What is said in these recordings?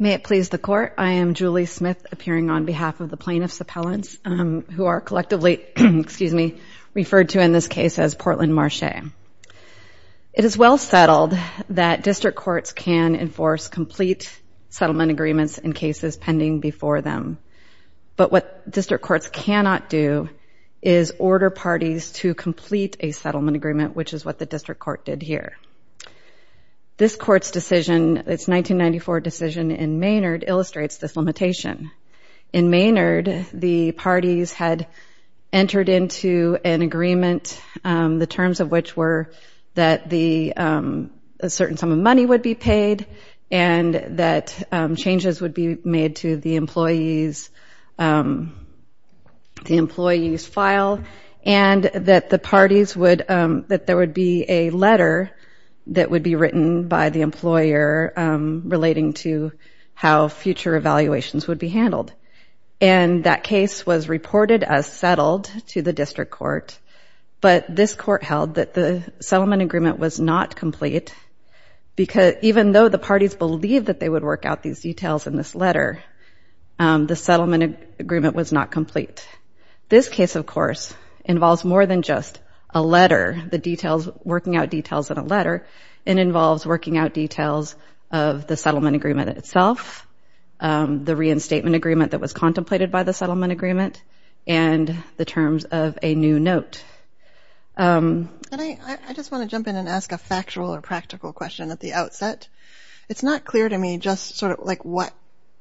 May it please the Court, I am Julie Smith, appearing on behalf of the plaintiffs' appellants, who are collectively referred to in this case as Portland Marche. It is well settled that district courts can enforce complete settlement agreements in cases pending before them, but what district courts cannot do is order parties to complete a settlement agreement, which is what the district court did here. This Court's decision, its 1994 decision in Maynard, illustrates this limitation. In Maynard, the parties had entered into an agreement, the terms of which were that a certain sum of money would be paid and that changes would be made to the employee's file, and that there would be a letter that would be written by the employer relating to how future evaluations would be handled. And that case was reported as settled to the district court, but this Court held that the settlement agreement was not complete, because even though the parties believed that they would work out these details in this letter, the settlement agreement was not complete. This case, of course, involves more than just a letter, the details, working out details in a letter, it involves working out details of the settlement agreement itself, the reinstatement agreement that was contemplated by the settlement agreement, and the terms of a new note. I just want to jump in and ask a factual or practical question at the outset. It's not clear to me just sort of like what,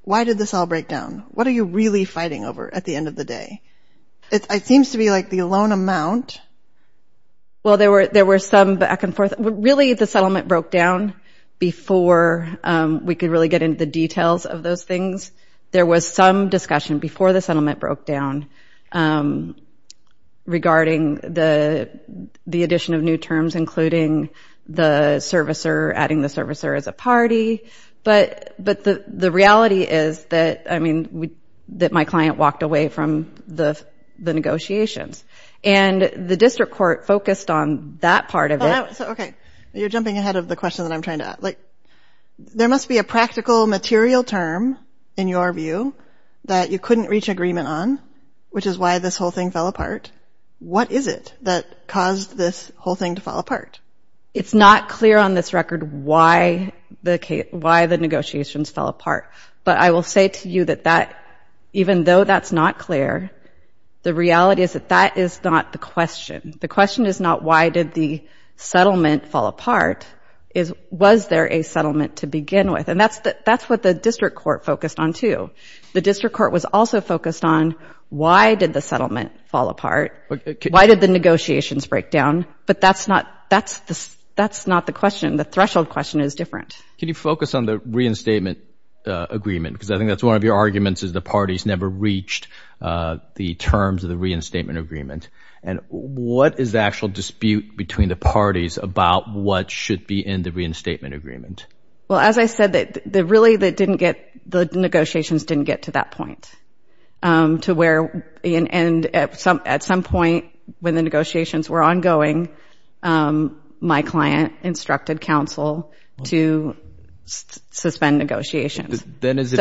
why did this all break down? What are you really fighting over at the end of the day? It seems to be like the loan amount. Well, there were some back and forth. Really, the settlement broke down before we could really get into the details of those things. There was some discussion before the settlement broke down regarding the addition of new terms, including the servicer, adding the servicer as a party. But the reality is that, I mean, that my client walked away from the negotiations. And the district court focused on that part of it. Okay. You're jumping ahead of the question that I'm trying to ask. There must be a practical material term, in your view, that you couldn't reach agreement on, which is why this whole thing fell apart. What is it that caused this whole thing to fall apart? It's not clear on this record why the negotiations fell apart. But I will say to you that even though that's not clear, the reality is that that is not the question. The question is not why did the settlement fall apart. It's was there a settlement to begin with. And that's what the district court focused on, too. The district court was also focused on why did the settlement fall apart? Why did the negotiations break down? But that's not the question. The threshold question is different. Can you focus on the reinstatement agreement? Because I think that's one of your arguments is the parties never reached the terms of the reinstatement agreement. And what is the actual dispute between the parties about what should be in the reinstatement agreement? Well, as I said, really the negotiations didn't get to that point. And at some point when the negotiations were ongoing, my client instructed counsel to suspend negotiations. Then is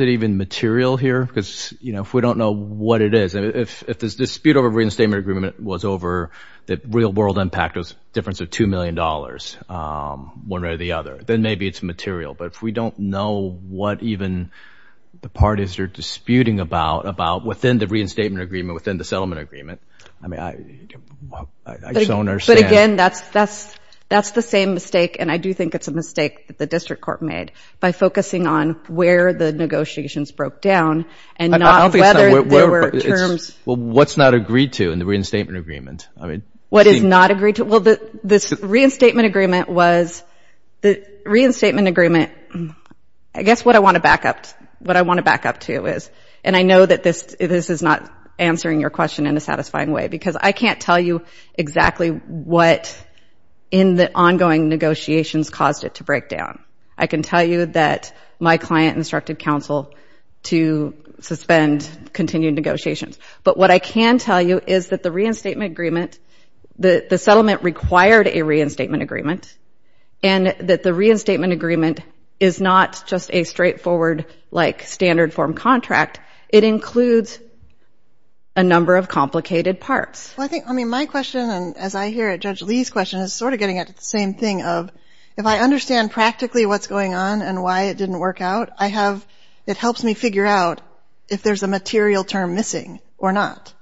it even material here? Because if we don't know what it is, if this dispute over reinstatement agreement was over, the real world impact was a difference of $2 million, one way or the other, then maybe it's material. But if we don't know what even the parties are disputing about within the reinstatement agreement, within the settlement agreement, I just don't understand. But again, that's the same mistake, and I do think it's a mistake that the district court made by focusing on where the negotiations broke down and not whether there were terms. Well, what's not agreed to in the reinstatement agreement? What is not agreed to? Well, this reinstatement agreement was the reinstatement agreement. I guess what I want to back up to is, and I know that this is not answering your question in a satisfying way, because I can't tell you exactly what in the ongoing negotiations caused it to break down. I can tell you that my client instructed counsel to suspend continued negotiations. But what I can tell you is that the reinstatement agreement, the settlement required a reinstatement agreement, and that the reinstatement agreement is not just a straightforward, like, standard form contract. It includes a number of complicated parts. Well, I think, I mean, my question, and as I hear it, Judge Lee's question, is sort of getting at the same thing of, if I understand practically what's going on and why it didn't work out, I have, it helps me figure out if there's a material term missing or not.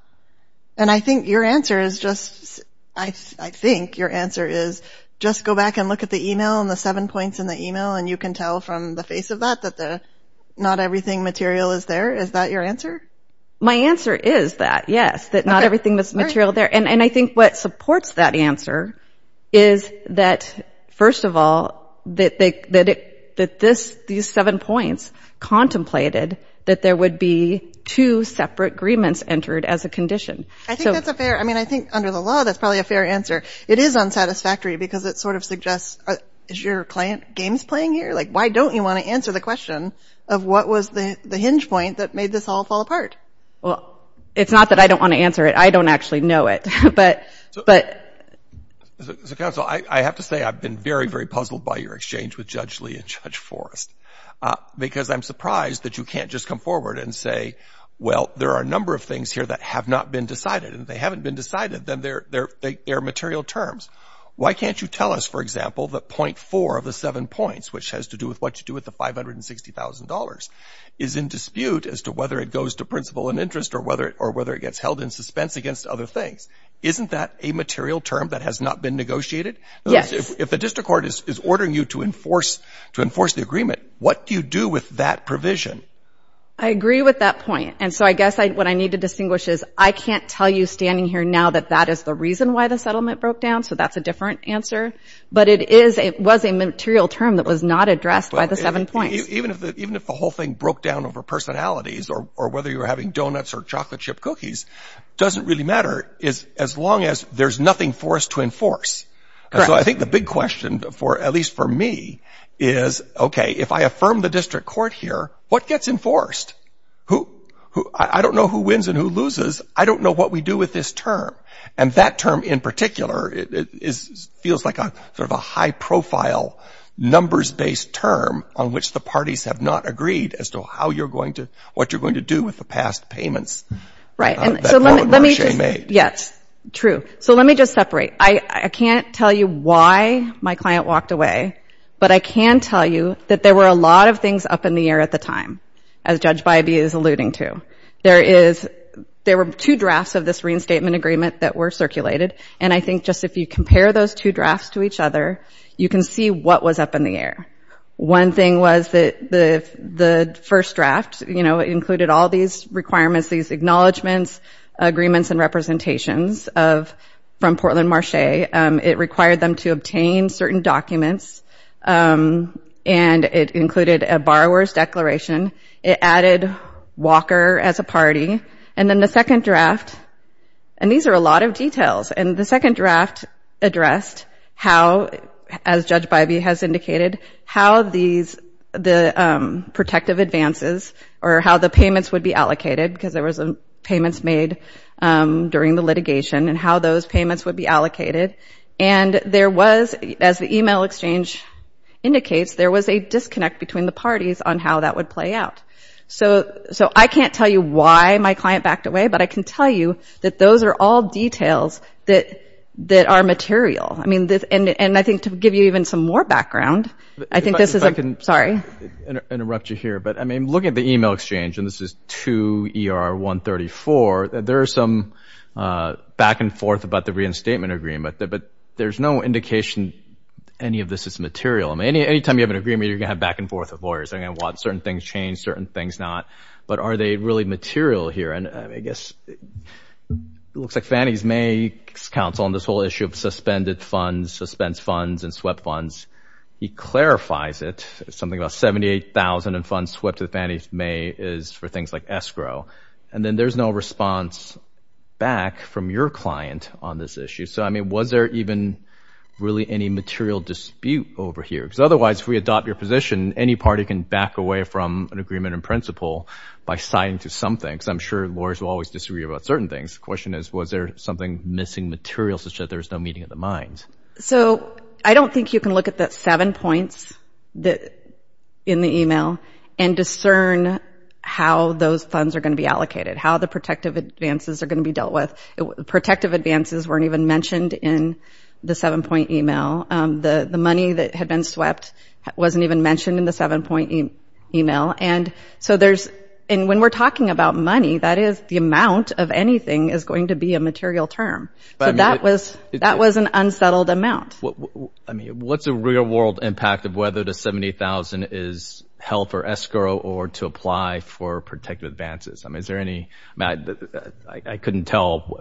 And I think your answer is just, I think your answer is just go back and look at the email and the seven points in the email and you can tell from the face of that that the not everything material is there. Is that your answer? My answer is that, yes, that not everything was material there. And I think what supports that answer is that, first of all, that these seven points contemplated that there would be two separate agreements entered as a condition. I think that's a fair, I mean, I think under the law that's probably a fair answer. It is unsatisfactory because it sort of suggests, is your client games playing here? Like, why don't you want to answer the question of what was the hinge point that made this all fall apart? Well, it's not that I don't want to answer it. I don't actually know it. But. Counsel, I have to say I've been very, very puzzled by your exchange with Judge Lee and Judge Forrest. Because I'm surprised that you can't just come forward and say, well, there are a number of things here that have not been decided and they haven't been decided. Then they're there. They are material terms. Why can't you tell us, for example, that point four of the seven points, which has to do with what you do with the $560,000, is in dispute as to whether it goes to principle and interest or whether it gets held in suspense against other things. Isn't that a material term that has not been negotiated? Yes. If the district court is ordering you to enforce the agreement, what do you do with that provision? I agree with that point. And so I guess what I need to distinguish is I can't tell you standing here now that that is the reason why the settlement broke down. So that's a different answer. But it was a material term that was not addressed by the seven points. Even if the whole thing broke down over personalities or whether you were having donuts or chocolate chip cookies, it doesn't really matter as long as there's nothing for us to enforce. So I think the big question, at least for me, is, okay, if I affirm the district court here, what gets enforced? I don't know who wins and who loses. I don't know what we do with this term. And that term in particular feels like sort of a high-profile, numbers-based term on which the parties have not agreed as to what you're going to do with the past payments. Right. Yes. True. So let me just separate. I can't tell you why my client walked away, but I can tell you that there were a lot of things up in the air at the time, as Judge Bybee is alluding to. There were two drafts of this reinstatement agreement that were circulated, and I think just if you compare those two drafts to each other, you can see what was up in the air. One thing was that the first draft included all these requirements, these acknowledgements, agreements, and representations from Portland Marché. It required them to obtain certain documents, and it included a borrower's declaration. It added Walker as a party. And then the second draft, and these are a lot of details, and the second draft addressed how, as Judge Bybee has indicated, how the protective advances or how the payments would be allocated, because there was payments made during the litigation, and how those payments would be allocated. And there was, as the email exchange indicates, there was a disconnect between the parties on how that would play out. So I can't tell you why my client backed away, but I can tell you that those are all details that are material. I mean, and I think to give you even some more background, I think this is a— Sorry. —interrupt you here, but, I mean, looking at the email exchange, and this is to ER-134, there is some back and forth about the reinstatement agreement, but there's no indication any of this is material. I mean, any time you have an agreement, you're going to have back and forth with lawyers. They're going to want certain things changed, certain things not. But are they really material here? And I guess it looks like Fannie Mae's counsel on this whole issue of suspended funds, suspense funds, and swept funds, he clarifies it. Something about $78,000 in funds swept to Fannie Mae is for things like escrow. And then there's no response back from your client on this issue. So, I mean, was there even really any material dispute over here? Because otherwise, if we adopt your position, any party can back away from an agreement in principle by signing to something. So I'm sure lawyers will always disagree about certain things. The question is, was there something missing material such that there was no meeting of the minds? So I don't think you can look at the seven points in the email and discern how those funds are going to be allocated, how the protective advances are going to be dealt with. Protective advances weren't even mentioned in the seven-point email. The money that had been swept wasn't even mentioned in the seven-point email. And so there's – and when we're talking about money, that is the amount of anything is going to be a material term. So that was an unsettled amount. I mean, what's the real-world impact of whether the $78,000 is held for escrow or to apply for protective advances? I mean, is there any – I couldn't tell.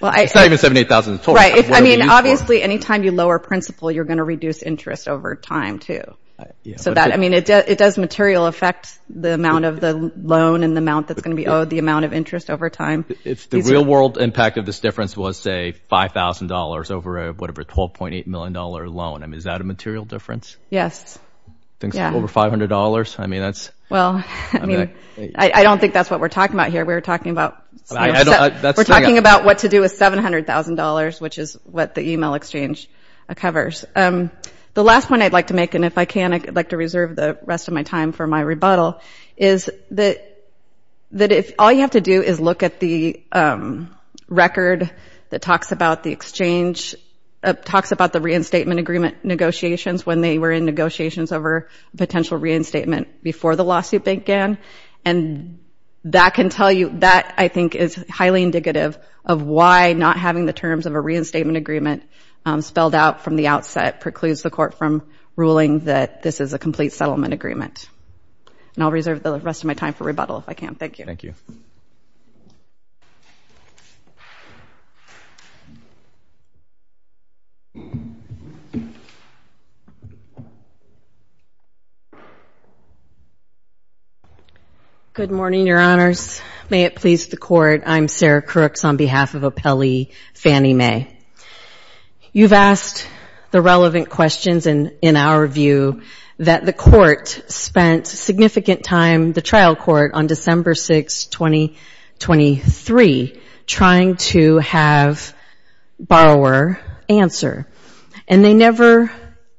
It's not even $78,000 at all. Right. I mean, obviously, any time you lower principle, you're going to reduce interest over time, too. So that – I mean, it does material effect the amount of the loan and the amount that's going to be owed, the amount of interest over time. If the real-world impact of this difference was, say, $5,000 over a – whatever, $12.8 million loan, I mean, is that a material difference? Yes. I think it's over $500. I mean, that's – Well, I mean, I don't think that's what we're talking about here. We're talking about – We're talking about what to do with $700,000, which is what the email exchange covers. The last point I'd like to make – and if I can, I'd like to reserve the rest of my time for my rebuttal – is that if – all you have to do is look at the record that talks about the exchange – talks about the reinstatement agreement negotiations when they were in negotiations over potential reinstatement before the lawsuit began. And that can tell you – that, I think, is highly indicative of why not having the terms of a reinstatement agreement spelled out from the outset precludes the court from ruling that this is a complete settlement agreement. And I'll reserve the rest of my time for rebuttal if I can. Thank you. Thank you. Good morning, Your Honors. May it please the Court, I'm Sarah Crooks on behalf of Appellee Fannie Mae. You've asked the relevant questions, and in our view, that the court spent significant time – the trial court – on December 6, 2023 trying to have borrower answer. And they never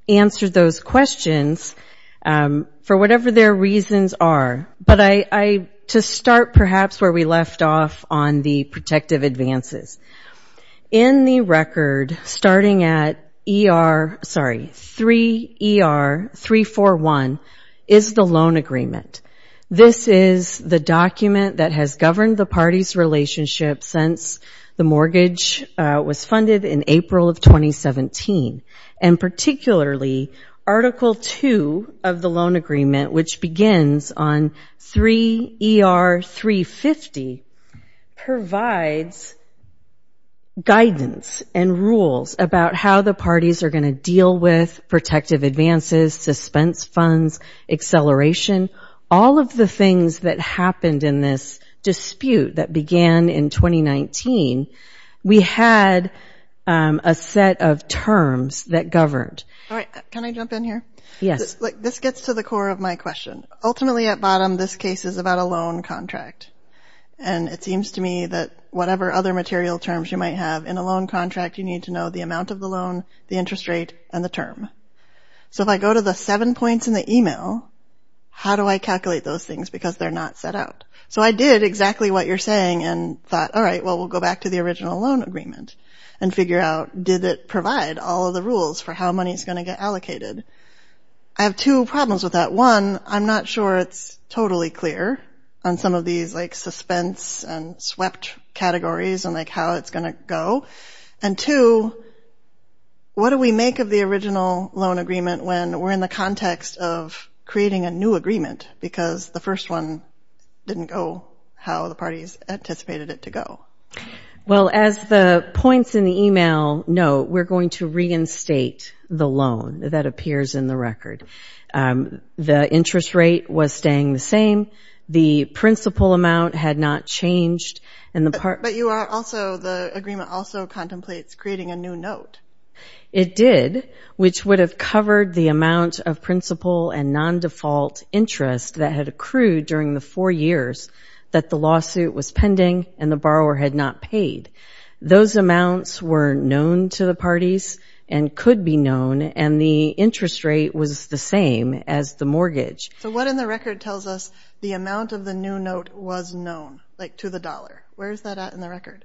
answered those questions for whatever their reasons are. But I – to start, perhaps, where we left off on the protective advances. In the record, starting at ER – sorry – 3 ER 341 is the loan agreement. This is the document that has governed the party's relationship since the mortgage was funded in April of 2017. And particularly, Article 2 of the loan agreement, which begins on 3 ER 350, provides guidance and rules about how the parties are going to deal with protective advances, suspense funds, acceleration. All of the things that happened in this dispute that began in 2019, we had a set of terms that governed. All right. Can I jump in here? Yes. This gets to the core of my question. Ultimately, at bottom, this case is about a loan contract. And it seems to me that whatever other material terms you might have in a loan contract, you need to know the amount of the loan, the interest rate, and the term. So if I go to the 7 points in the email, how do I calculate those things because they're not set out? So I did exactly what you're saying and thought, all right, well, we'll go back to the original loan agreement and figure out, did it provide all of the rules for how money is going to get allocated? I have two problems with that. One, I'm not sure it's totally clear on some of these suspense and swept categories and how it's going to go. And two, what do we make of the original loan agreement when we're in the context of creating a new agreement because the first one didn't go how the parties anticipated it to go? Well, as the points in the email note, we're going to reinstate the loan that appears in the record. The interest rate was staying the same. The principal amount had not changed. But the agreement also contemplates creating a new note. It did, which would have covered the amount of principal and non-default interest that had accrued during the four years that the lawsuit was pending and the borrower had not paid. Those amounts were known to the parties and could be known, and the interest rate was the same as the mortgage. So what in the record tells us the amount of the new note was known, like to the dollar? Where is that at in the record?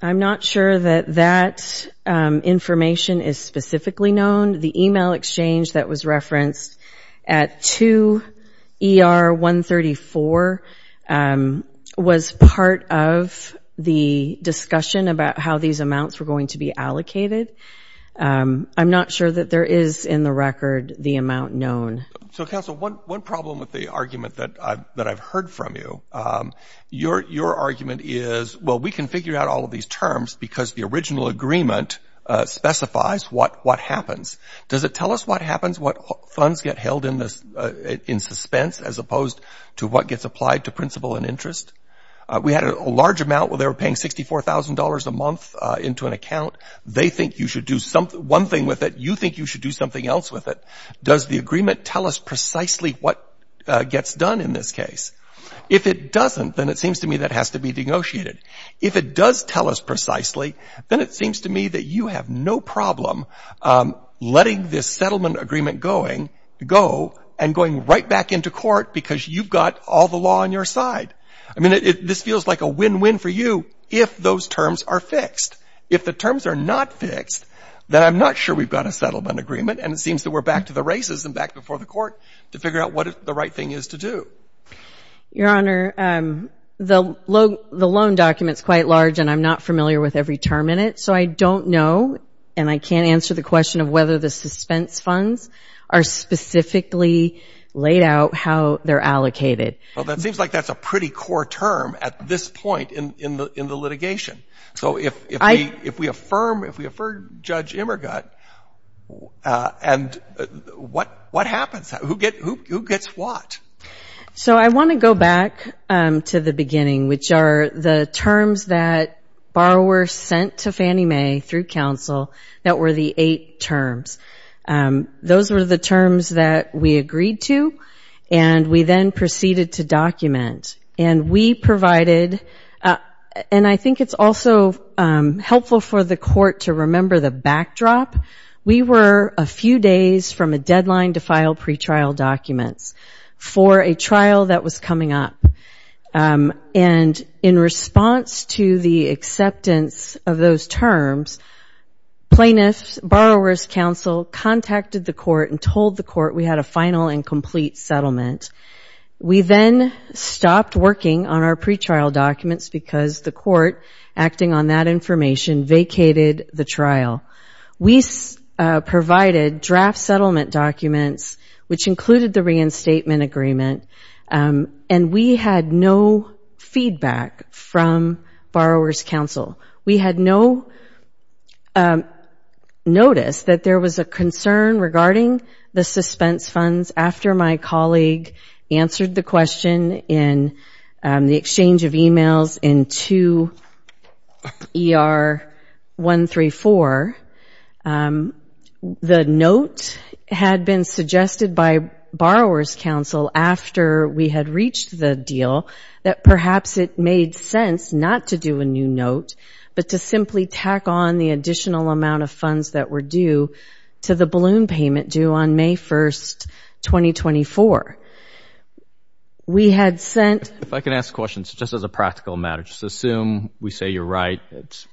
I'm not sure that that information is specifically known. The email exchange that was referenced at 2ER134 was part of the discussion about how these amounts were going to be allocated. I'm not sure that there is in the record the amount known. So, Counsel, one problem with the argument that I've heard from you, your argument is, well, we can figure out all of these terms because the original agreement specifies what happens. Does it tell us what happens, what funds get held in suspense, as opposed to what gets applied to principal and interest? We had a large amount where they were paying $64,000 a month into an account. They think you should do one thing with it. You think you should do something else with it. Does the agreement tell us precisely what gets done in this case? If it doesn't, then it seems to me that has to be negotiated. If it does tell us precisely, then it seems to me that you have no problem letting this settlement agreement go and going right back into court because you've got all the law on your side. I mean, this feels like a win-win for you if those terms are fixed. If the terms are not fixed, then I'm not sure we've got a settlement agreement, and it seems that we're back to the races and back before the court to figure out what the right thing is to do. Your Honor, the loan document's quite large, and I'm not familiar with every term in it, so I don't know, and I can't answer the question of whether the suspense funds are specifically laid out how they're allocated. Well, that seems like that's a pretty core term at this point in the litigation. So if we affirm Judge Immergut, and what happens? Who gets what? So I want to go back to the beginning, which are the terms that borrower sent to Fannie Mae through counsel that were the eight terms. Those were the terms that we agreed to, and we then proceeded to document, and we provided, and I think it's also helpful for the court to remember the backdrop. We were a few days from a deadline to file pretrial documents for a trial that was coming up, and in response to the acceptance of those terms, plaintiffs, borrower's counsel contacted the court and told the court we had a final and complete settlement. We then stopped working on our pretrial documents because the court, acting on that information, vacated the trial. We provided draft settlement documents, which included the reinstatement agreement, and we had no feedback from borrower's counsel. We had no notice that there was a concern regarding the suspense funds. After my colleague answered the question in the exchange of emails in 2ER134, the note had been suggested by borrower's counsel after we had reached the deal that perhaps it made sense not to do a new note, but to simply tack on the additional amount of funds that were due to the balloon payment due on May 1, 2024. We had sent— If I can ask a question, just as a practical matter, just assume we say you're right, it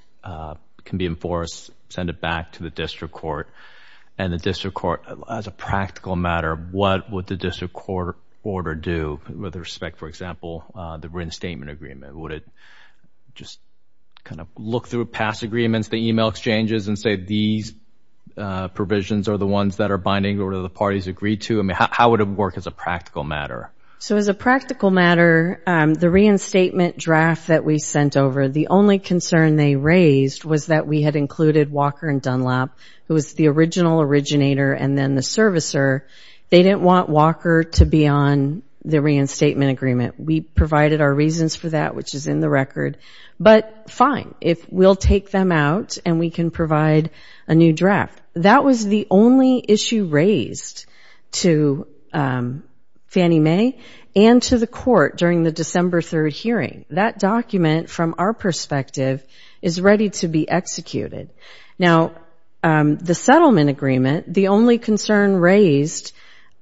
can be enforced, send it back to the district court, and the district court, as a practical matter, what would the district court order do with respect, for example, the reinstatement agreement? Would it just kind of look through past agreements, the email exchanges, and say these provisions are the ones that are binding or the parties agreed to? How would it work as a practical matter? So as a practical matter, the reinstatement draft that we sent over, the only concern they raised was that we had included Walker and Dunlap, who was the original originator and then the servicer. They didn't want Walker to be on the reinstatement agreement. We provided our reasons for that, which is in the record. But fine, if we'll take them out and we can provide a new draft. That was the only issue raised to Fannie Mae and to the court during the December 3 hearing. That document, from our perspective, is ready to be executed. Now, the settlement agreement, the only concern raised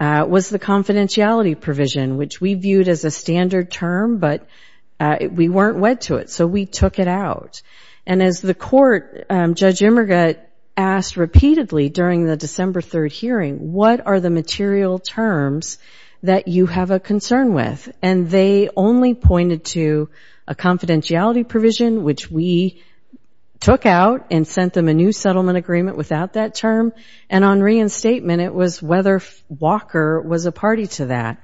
was the confidentiality provision, which we viewed as a standard term, but we weren't wed to it, so we took it out. And as the court, Judge Immergat, asked repeatedly during the December 3 hearing, what are the material terms that you have a concern with? And they only pointed to a confidentiality provision, which we took out and sent them a new settlement agreement without that term. And on reinstatement, it was whether Walker was a party to that.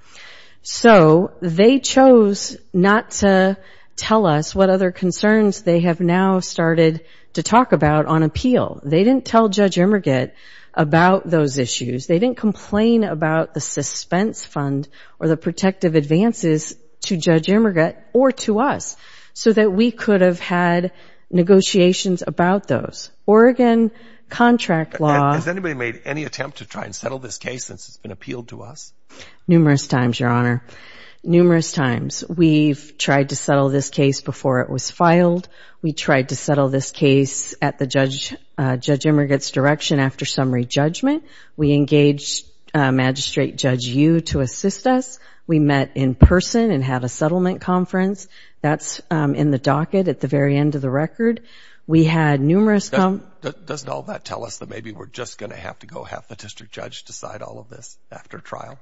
So they chose not to tell us what other concerns they have now started to talk about on appeal. They didn't tell Judge Immergat about those issues. They didn't complain about the suspense fund or the protective advances to Judge Immergat or to us so that we could have had negotiations about those. Oregon contract law... Has anybody made any attempt to try and settle this case since it's been appealed to us? Numerous times, Your Honor. Numerous times. We've tried to settle this case before it was filed. We tried to settle this case at Judge Immergat's direction after summary judgment. We engaged Magistrate Judge Yu to assist us. We met in person and had a settlement conference. That's in the docket at the very end of the record. We had numerous... Doesn't all that tell us that maybe we're just going to have to go and let the judge decide all of this after trial?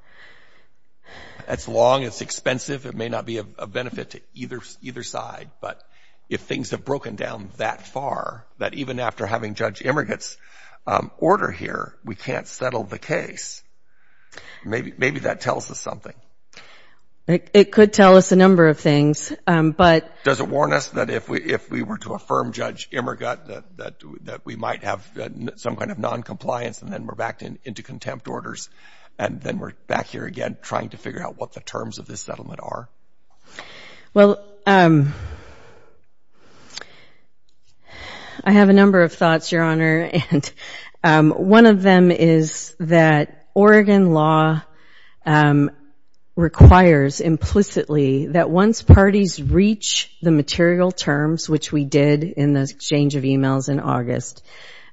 It's long. It's expensive. It may not be of benefit to either side. But if things have broken down that far, that even after having Judge Immergat's order here, we can't settle the case, maybe that tells us something. It could tell us a number of things, but... Does it warn us that if we were to affirm Judge Immergat that we might have some kind of noncompliance and then we're back into contempt orders and then we're back here again trying to figure out what the terms of this settlement are? Well... I have a number of thoughts, Your Honor. One of them is that Oregon law requires implicitly that once parties reach the material terms, which we did in the exchange of emails in August,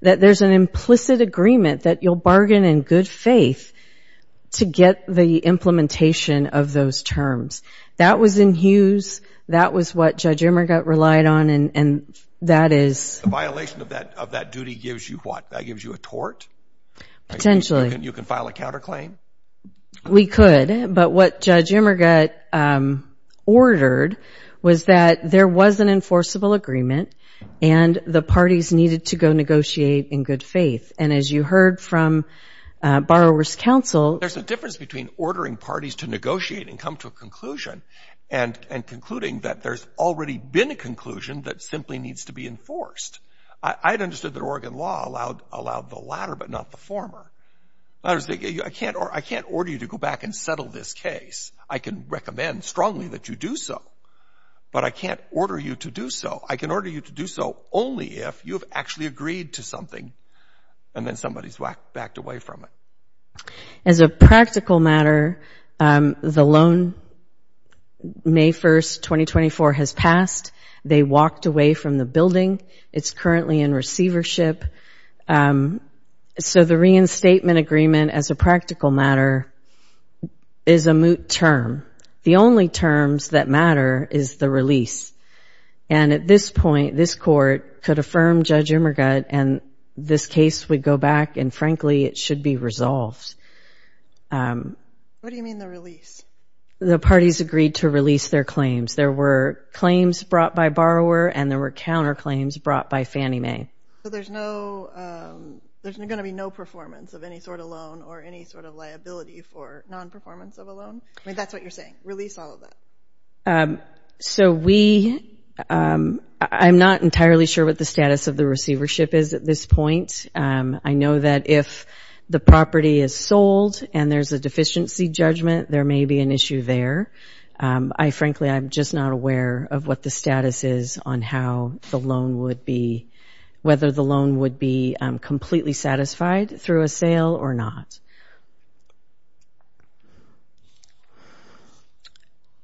that there's an implicit agreement that you'll bargain in good faith to get the implementation of those terms. That was in Hughes, that was what Judge Immergat relied on, and that is... The violation of that duty gives you what? That gives you a tort? Potentially. You can file a counterclaim? We could, but what Judge Immergat ordered was that there was an enforceable agreement and the parties needed to go negotiate in good faith. And as you heard from Borrowers' Council... There's a difference between ordering parties to negotiate and come to a conclusion and concluding that there's already been a conclusion that simply needs to be enforced. I'd understood that Oregon law allowed the latter but not the former. I can't order you to go back and settle this case. I can recommend strongly that you do so, but I can't order you to do so. I can order you to do so only if you've actually agreed to something and then somebody's backed away from it. As a practical matter, the loan, May 1, 2024, has passed. They walked away from the building. It's currently in receivership. So the reinstatement agreement, as a practical matter, is a moot term. The only terms that matter is the release. And at this point, this court could affirm Judge Immergut and this case would go back and, frankly, it should be resolved. What do you mean the release? The parties agreed to release their claims. There were claims brought by Borrower and there were counterclaims brought by Fannie Mae. So there's going to be no performance of any sort of loan or any sort of liability for non-performance of a loan? I mean, that's what you're saying, release all of that? So we, I'm not entirely sure what the status of the receivership is at this point. I know that if the property is sold and there's a deficiency judgment, there may be an issue there. I, frankly, I'm just not aware of what the status is on how the loan would be, whether the loan would be completely satisfied through a sale or not.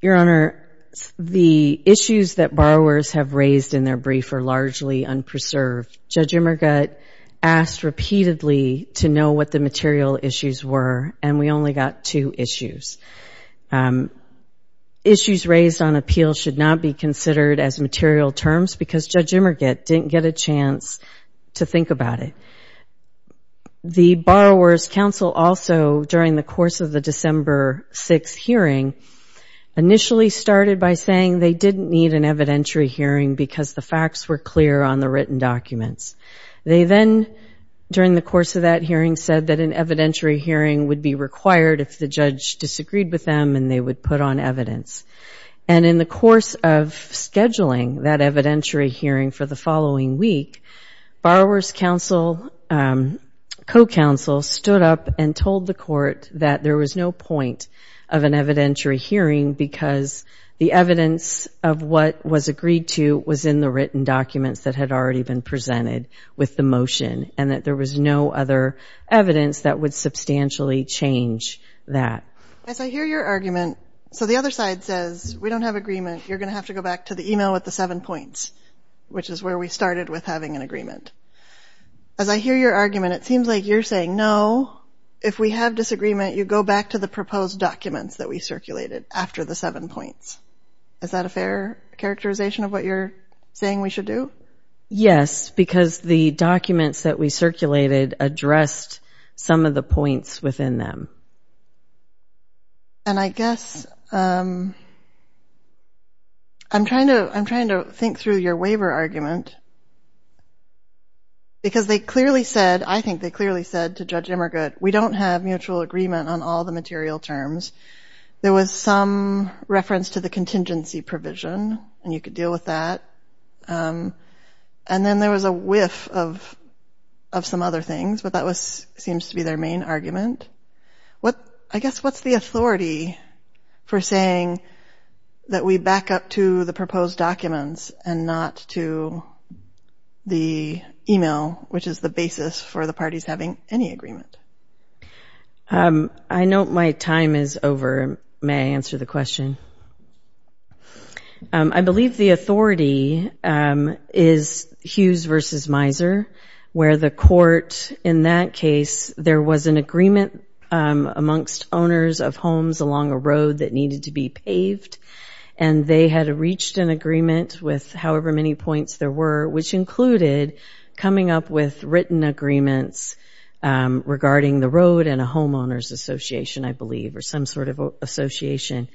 Your Honor, the issues that borrowers have raised in their brief are largely unpreserved. Judge Immergut asked repeatedly to know what the material issues were and we only got two issues. Issues raised on appeal should not be considered as material terms because Judge Immergut didn't get a chance to think about it. The Borrower's Counsel Office also, during the course of the December 6th hearing, initially started by saying they didn't need an evidentiary hearing because the facts were clear on the written documents. They then, during the course of that hearing, said that an evidentiary hearing would be required if the judge disagreed with them and they would put on evidence. And in the course of scheduling that evidentiary hearing for the following week, Borrower's Counsel, co-counsel, stood up and told the court that there was no point of an evidentiary hearing because the evidence of what was agreed to was in the written documents that had already been presented with the motion and that there was no other evidence that would substantially change that. As I hear your argument, so the other side says, we don't have agreement, you're going to have to go back to the email with the seven points, which is where we started with having an agreement. As I hear your argument, it seems like you're saying, no, if we have disagreement, you go back to the proposed documents that we circulated after the seven points. Is that a fair characterization of what you're saying we should do? Yes, because the documents that we circulated addressed some of the points within them. And I guess... I'm trying to think through your waiver argument because they clearly said, I think they clearly said to Judge Emmergut, we don't have mutual agreement on all the material terms. There was some reference to the contingency provision and you could deal with that. And then there was a whiff of some other things, but that seems to be their main argument. I guess what's the authority for saying that we back up to the proposed documents and not to the email, which is the basis for the parties having any agreement? I note my time is over. May I answer the question? I believe the authority is Hughes v. Miser, where the court in that case, there was an agreement amongst owners of homes along a road that needed to be paved and they had reached an agreement with however many points there were, which included coming up with written agreements regarding the road and a homeowners association, I believe, or some sort of association.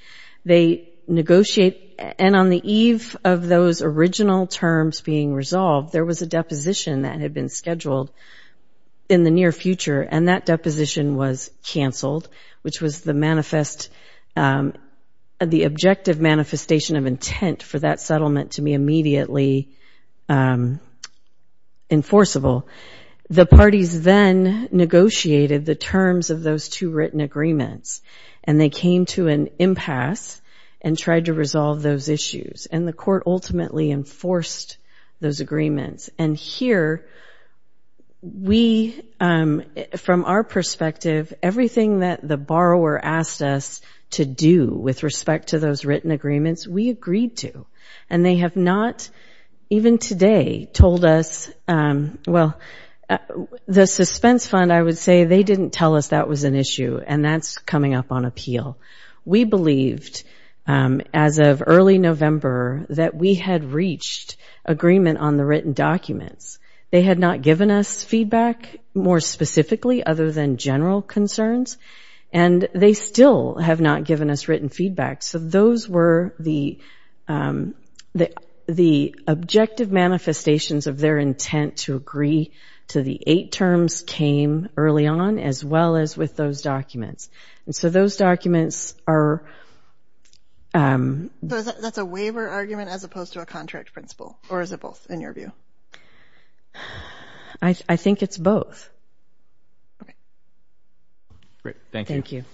They negotiate and on the eve of those original terms being resolved, there was a deposition that had been scheduled in the near future and that deposition was canceled, which was the objective manifestation of intent for that settlement to be immediately enforceable. The parties then negotiated the terms of those two written agreements and they came to an impasse and tried to resolve those issues and the court ultimately enforced those agreements. And here, we, from our perspective, everything that the borrower asked us to do with respect to those written agreements, we agreed to. And they have not, even today, told us, well, the suspense fund, I would say, they didn't tell us that was an issue and that's coming up on appeal. We believed as of early November that we had reached agreement on the written documents. They had not given us feedback more specifically other than general concerns and they still have not given us written feedback. So those were the objective manifestations of their intent to agree to the eight terms came early on, as well as with those documents. And so those documents are... So that's a waiver argument as opposed to a contract principle or is it both, in your view? I think it's both. Great, thank you.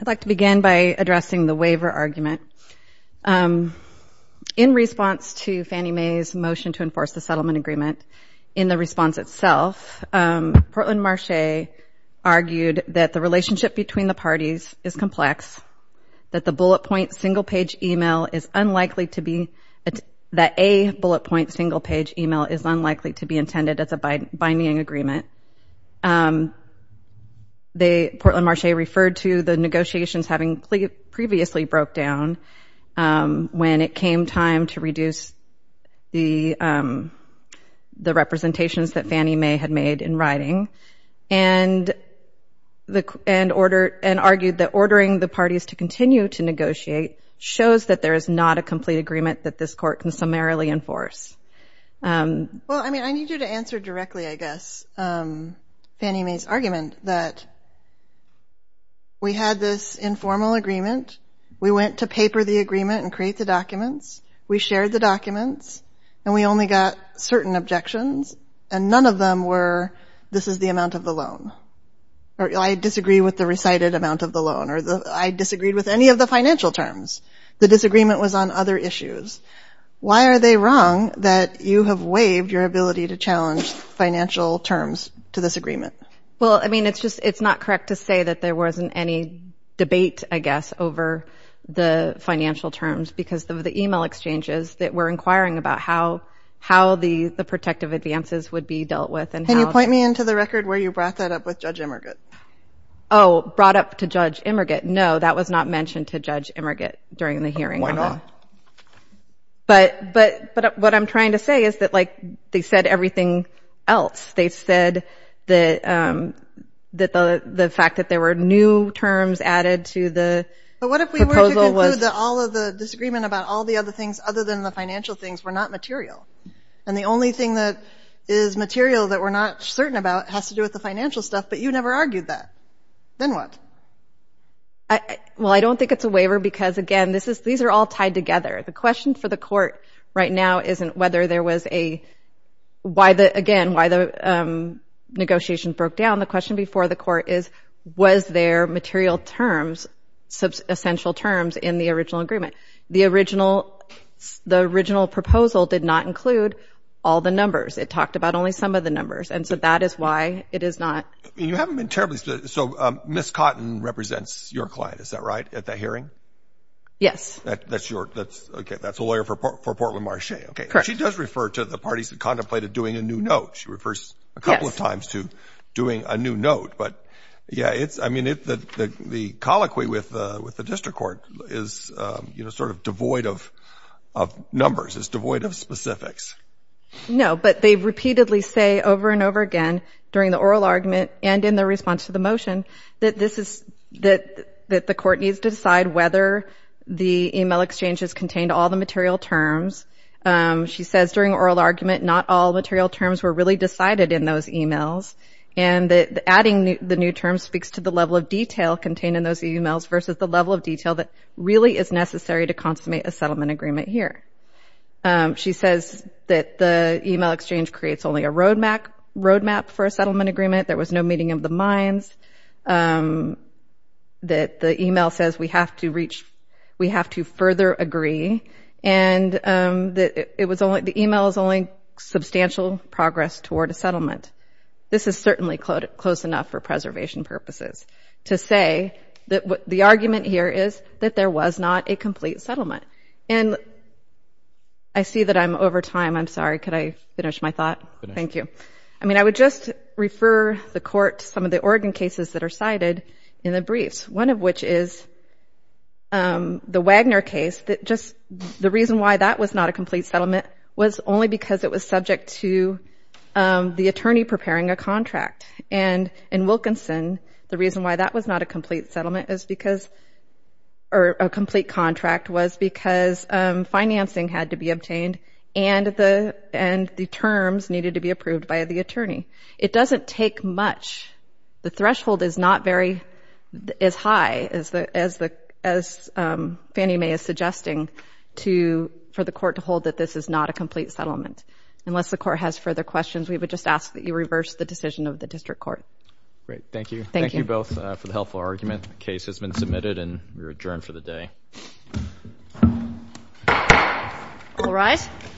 I'd like to begin by addressing the waiver argument. In response to Fannie Mae's motion to enforce the settlement agreement, in the response itself, Portland Marché argued that the relationship between the parties is complex, that the bullet point single page email is unlikely to be... that a bullet point single page email is unlikely to be intended as a binding agreement. Portland Marché referred to the negotiations having previously broke down when it came time to reduce the representations that Fannie Mae had made in writing and argued that ordering the parties to continue to negotiate shows that there is not a complete agreement that this court can summarily enforce. Well, I mean, I need you to answer directly, I guess, Fannie Mae's argument that we had this informal agreement, we went to paper the agreement and create the documents, we shared the documents, and we only got certain objections and none of them were this is the amount of the loan or I disagree with the recited amount of the loan or I disagreed with any of the financial terms. The disagreement was on other issues. Why are they wrong that you have waived your ability to challenge financial terms to this agreement? Well, I mean, it's not correct to say that there wasn't any debate, I guess, over the financial terms because of the email exchanges that were inquiring about how the protective advances would be dealt with and how... Can you point me into the record where you brought that up with Judge Immergitt? Oh, brought up to Judge Immergitt? No, that was not mentioned to Judge Immergitt during the hearing. But what I'm trying to say is that, like, they said everything else. They said that the fact that there were new terms added to the proposal was... But what if we were to conclude that all of the disagreement about all the other things other than the financial things were not material? And the only thing that is material that we're not certain about has to do with the financial stuff, but you never argued that. Then what? Well, I don't think it's a waiver because, again, these are all tied together. The question for the court right now isn't whether there was a... Again, why the negotiation broke down. The question before the court is, was there material terms, essential terms, in the original agreement? The original proposal did not include all the numbers. It talked about only some of the numbers, and so that is why it is not... You haven't been terribly... So Ms. Cotton represents your client, is that right, at that hearing? Yes. That's your... Okay, that's a lawyer for Portland Marché. Correct. But she does refer to the parties that contemplated doing a new note. She refers a couple of times to doing a new note. But, yeah, it's... I mean, the colloquy with the district court is sort of devoid of numbers. It's devoid of specifics. No, but they repeatedly say over and over again, during the oral argument and in the response to the motion, that the court needs to decide whether the e-mail exchange has contained all the material terms. She says, during oral argument, not all material terms were really decided in those e-mails, and that adding the new terms speaks to the level of detail contained in those e-mails versus the level of detail that really is necessary to consummate a settlement agreement here. She says that the e-mail exchange creates only a roadmap for a settlement agreement. There was no meeting of the minds. That the e-mail says we have to reach... We have to further agree. And the e-mail is only substantial progress toward a settlement. This is certainly close enough for preservation purposes to say that the argument here is that there was not a complete settlement. And I see that I'm over time. I'm sorry. Could I finish my thought? Thank you. I mean, I would just refer the court to some of the Oregon cases that are cited in the briefs, one of which is the Wagner case. The reason why that was not a complete settlement was only because it was subject to the attorney preparing a contract. And in Wilkinson, the reason why that was not a complete settlement or a complete contract was because financing had to be obtained and the terms needed to be approved by the attorney. It doesn't take much. The threshold is not very high, as Fannie Mae is suggesting, for the court to hold that this is not a complete settlement. Unless the court has further questions, we would just ask that you reverse the decision of the district court. Great. Thank you. Thank you both for the helpful argument. The case has been submitted and we're adjourned for the day. All right.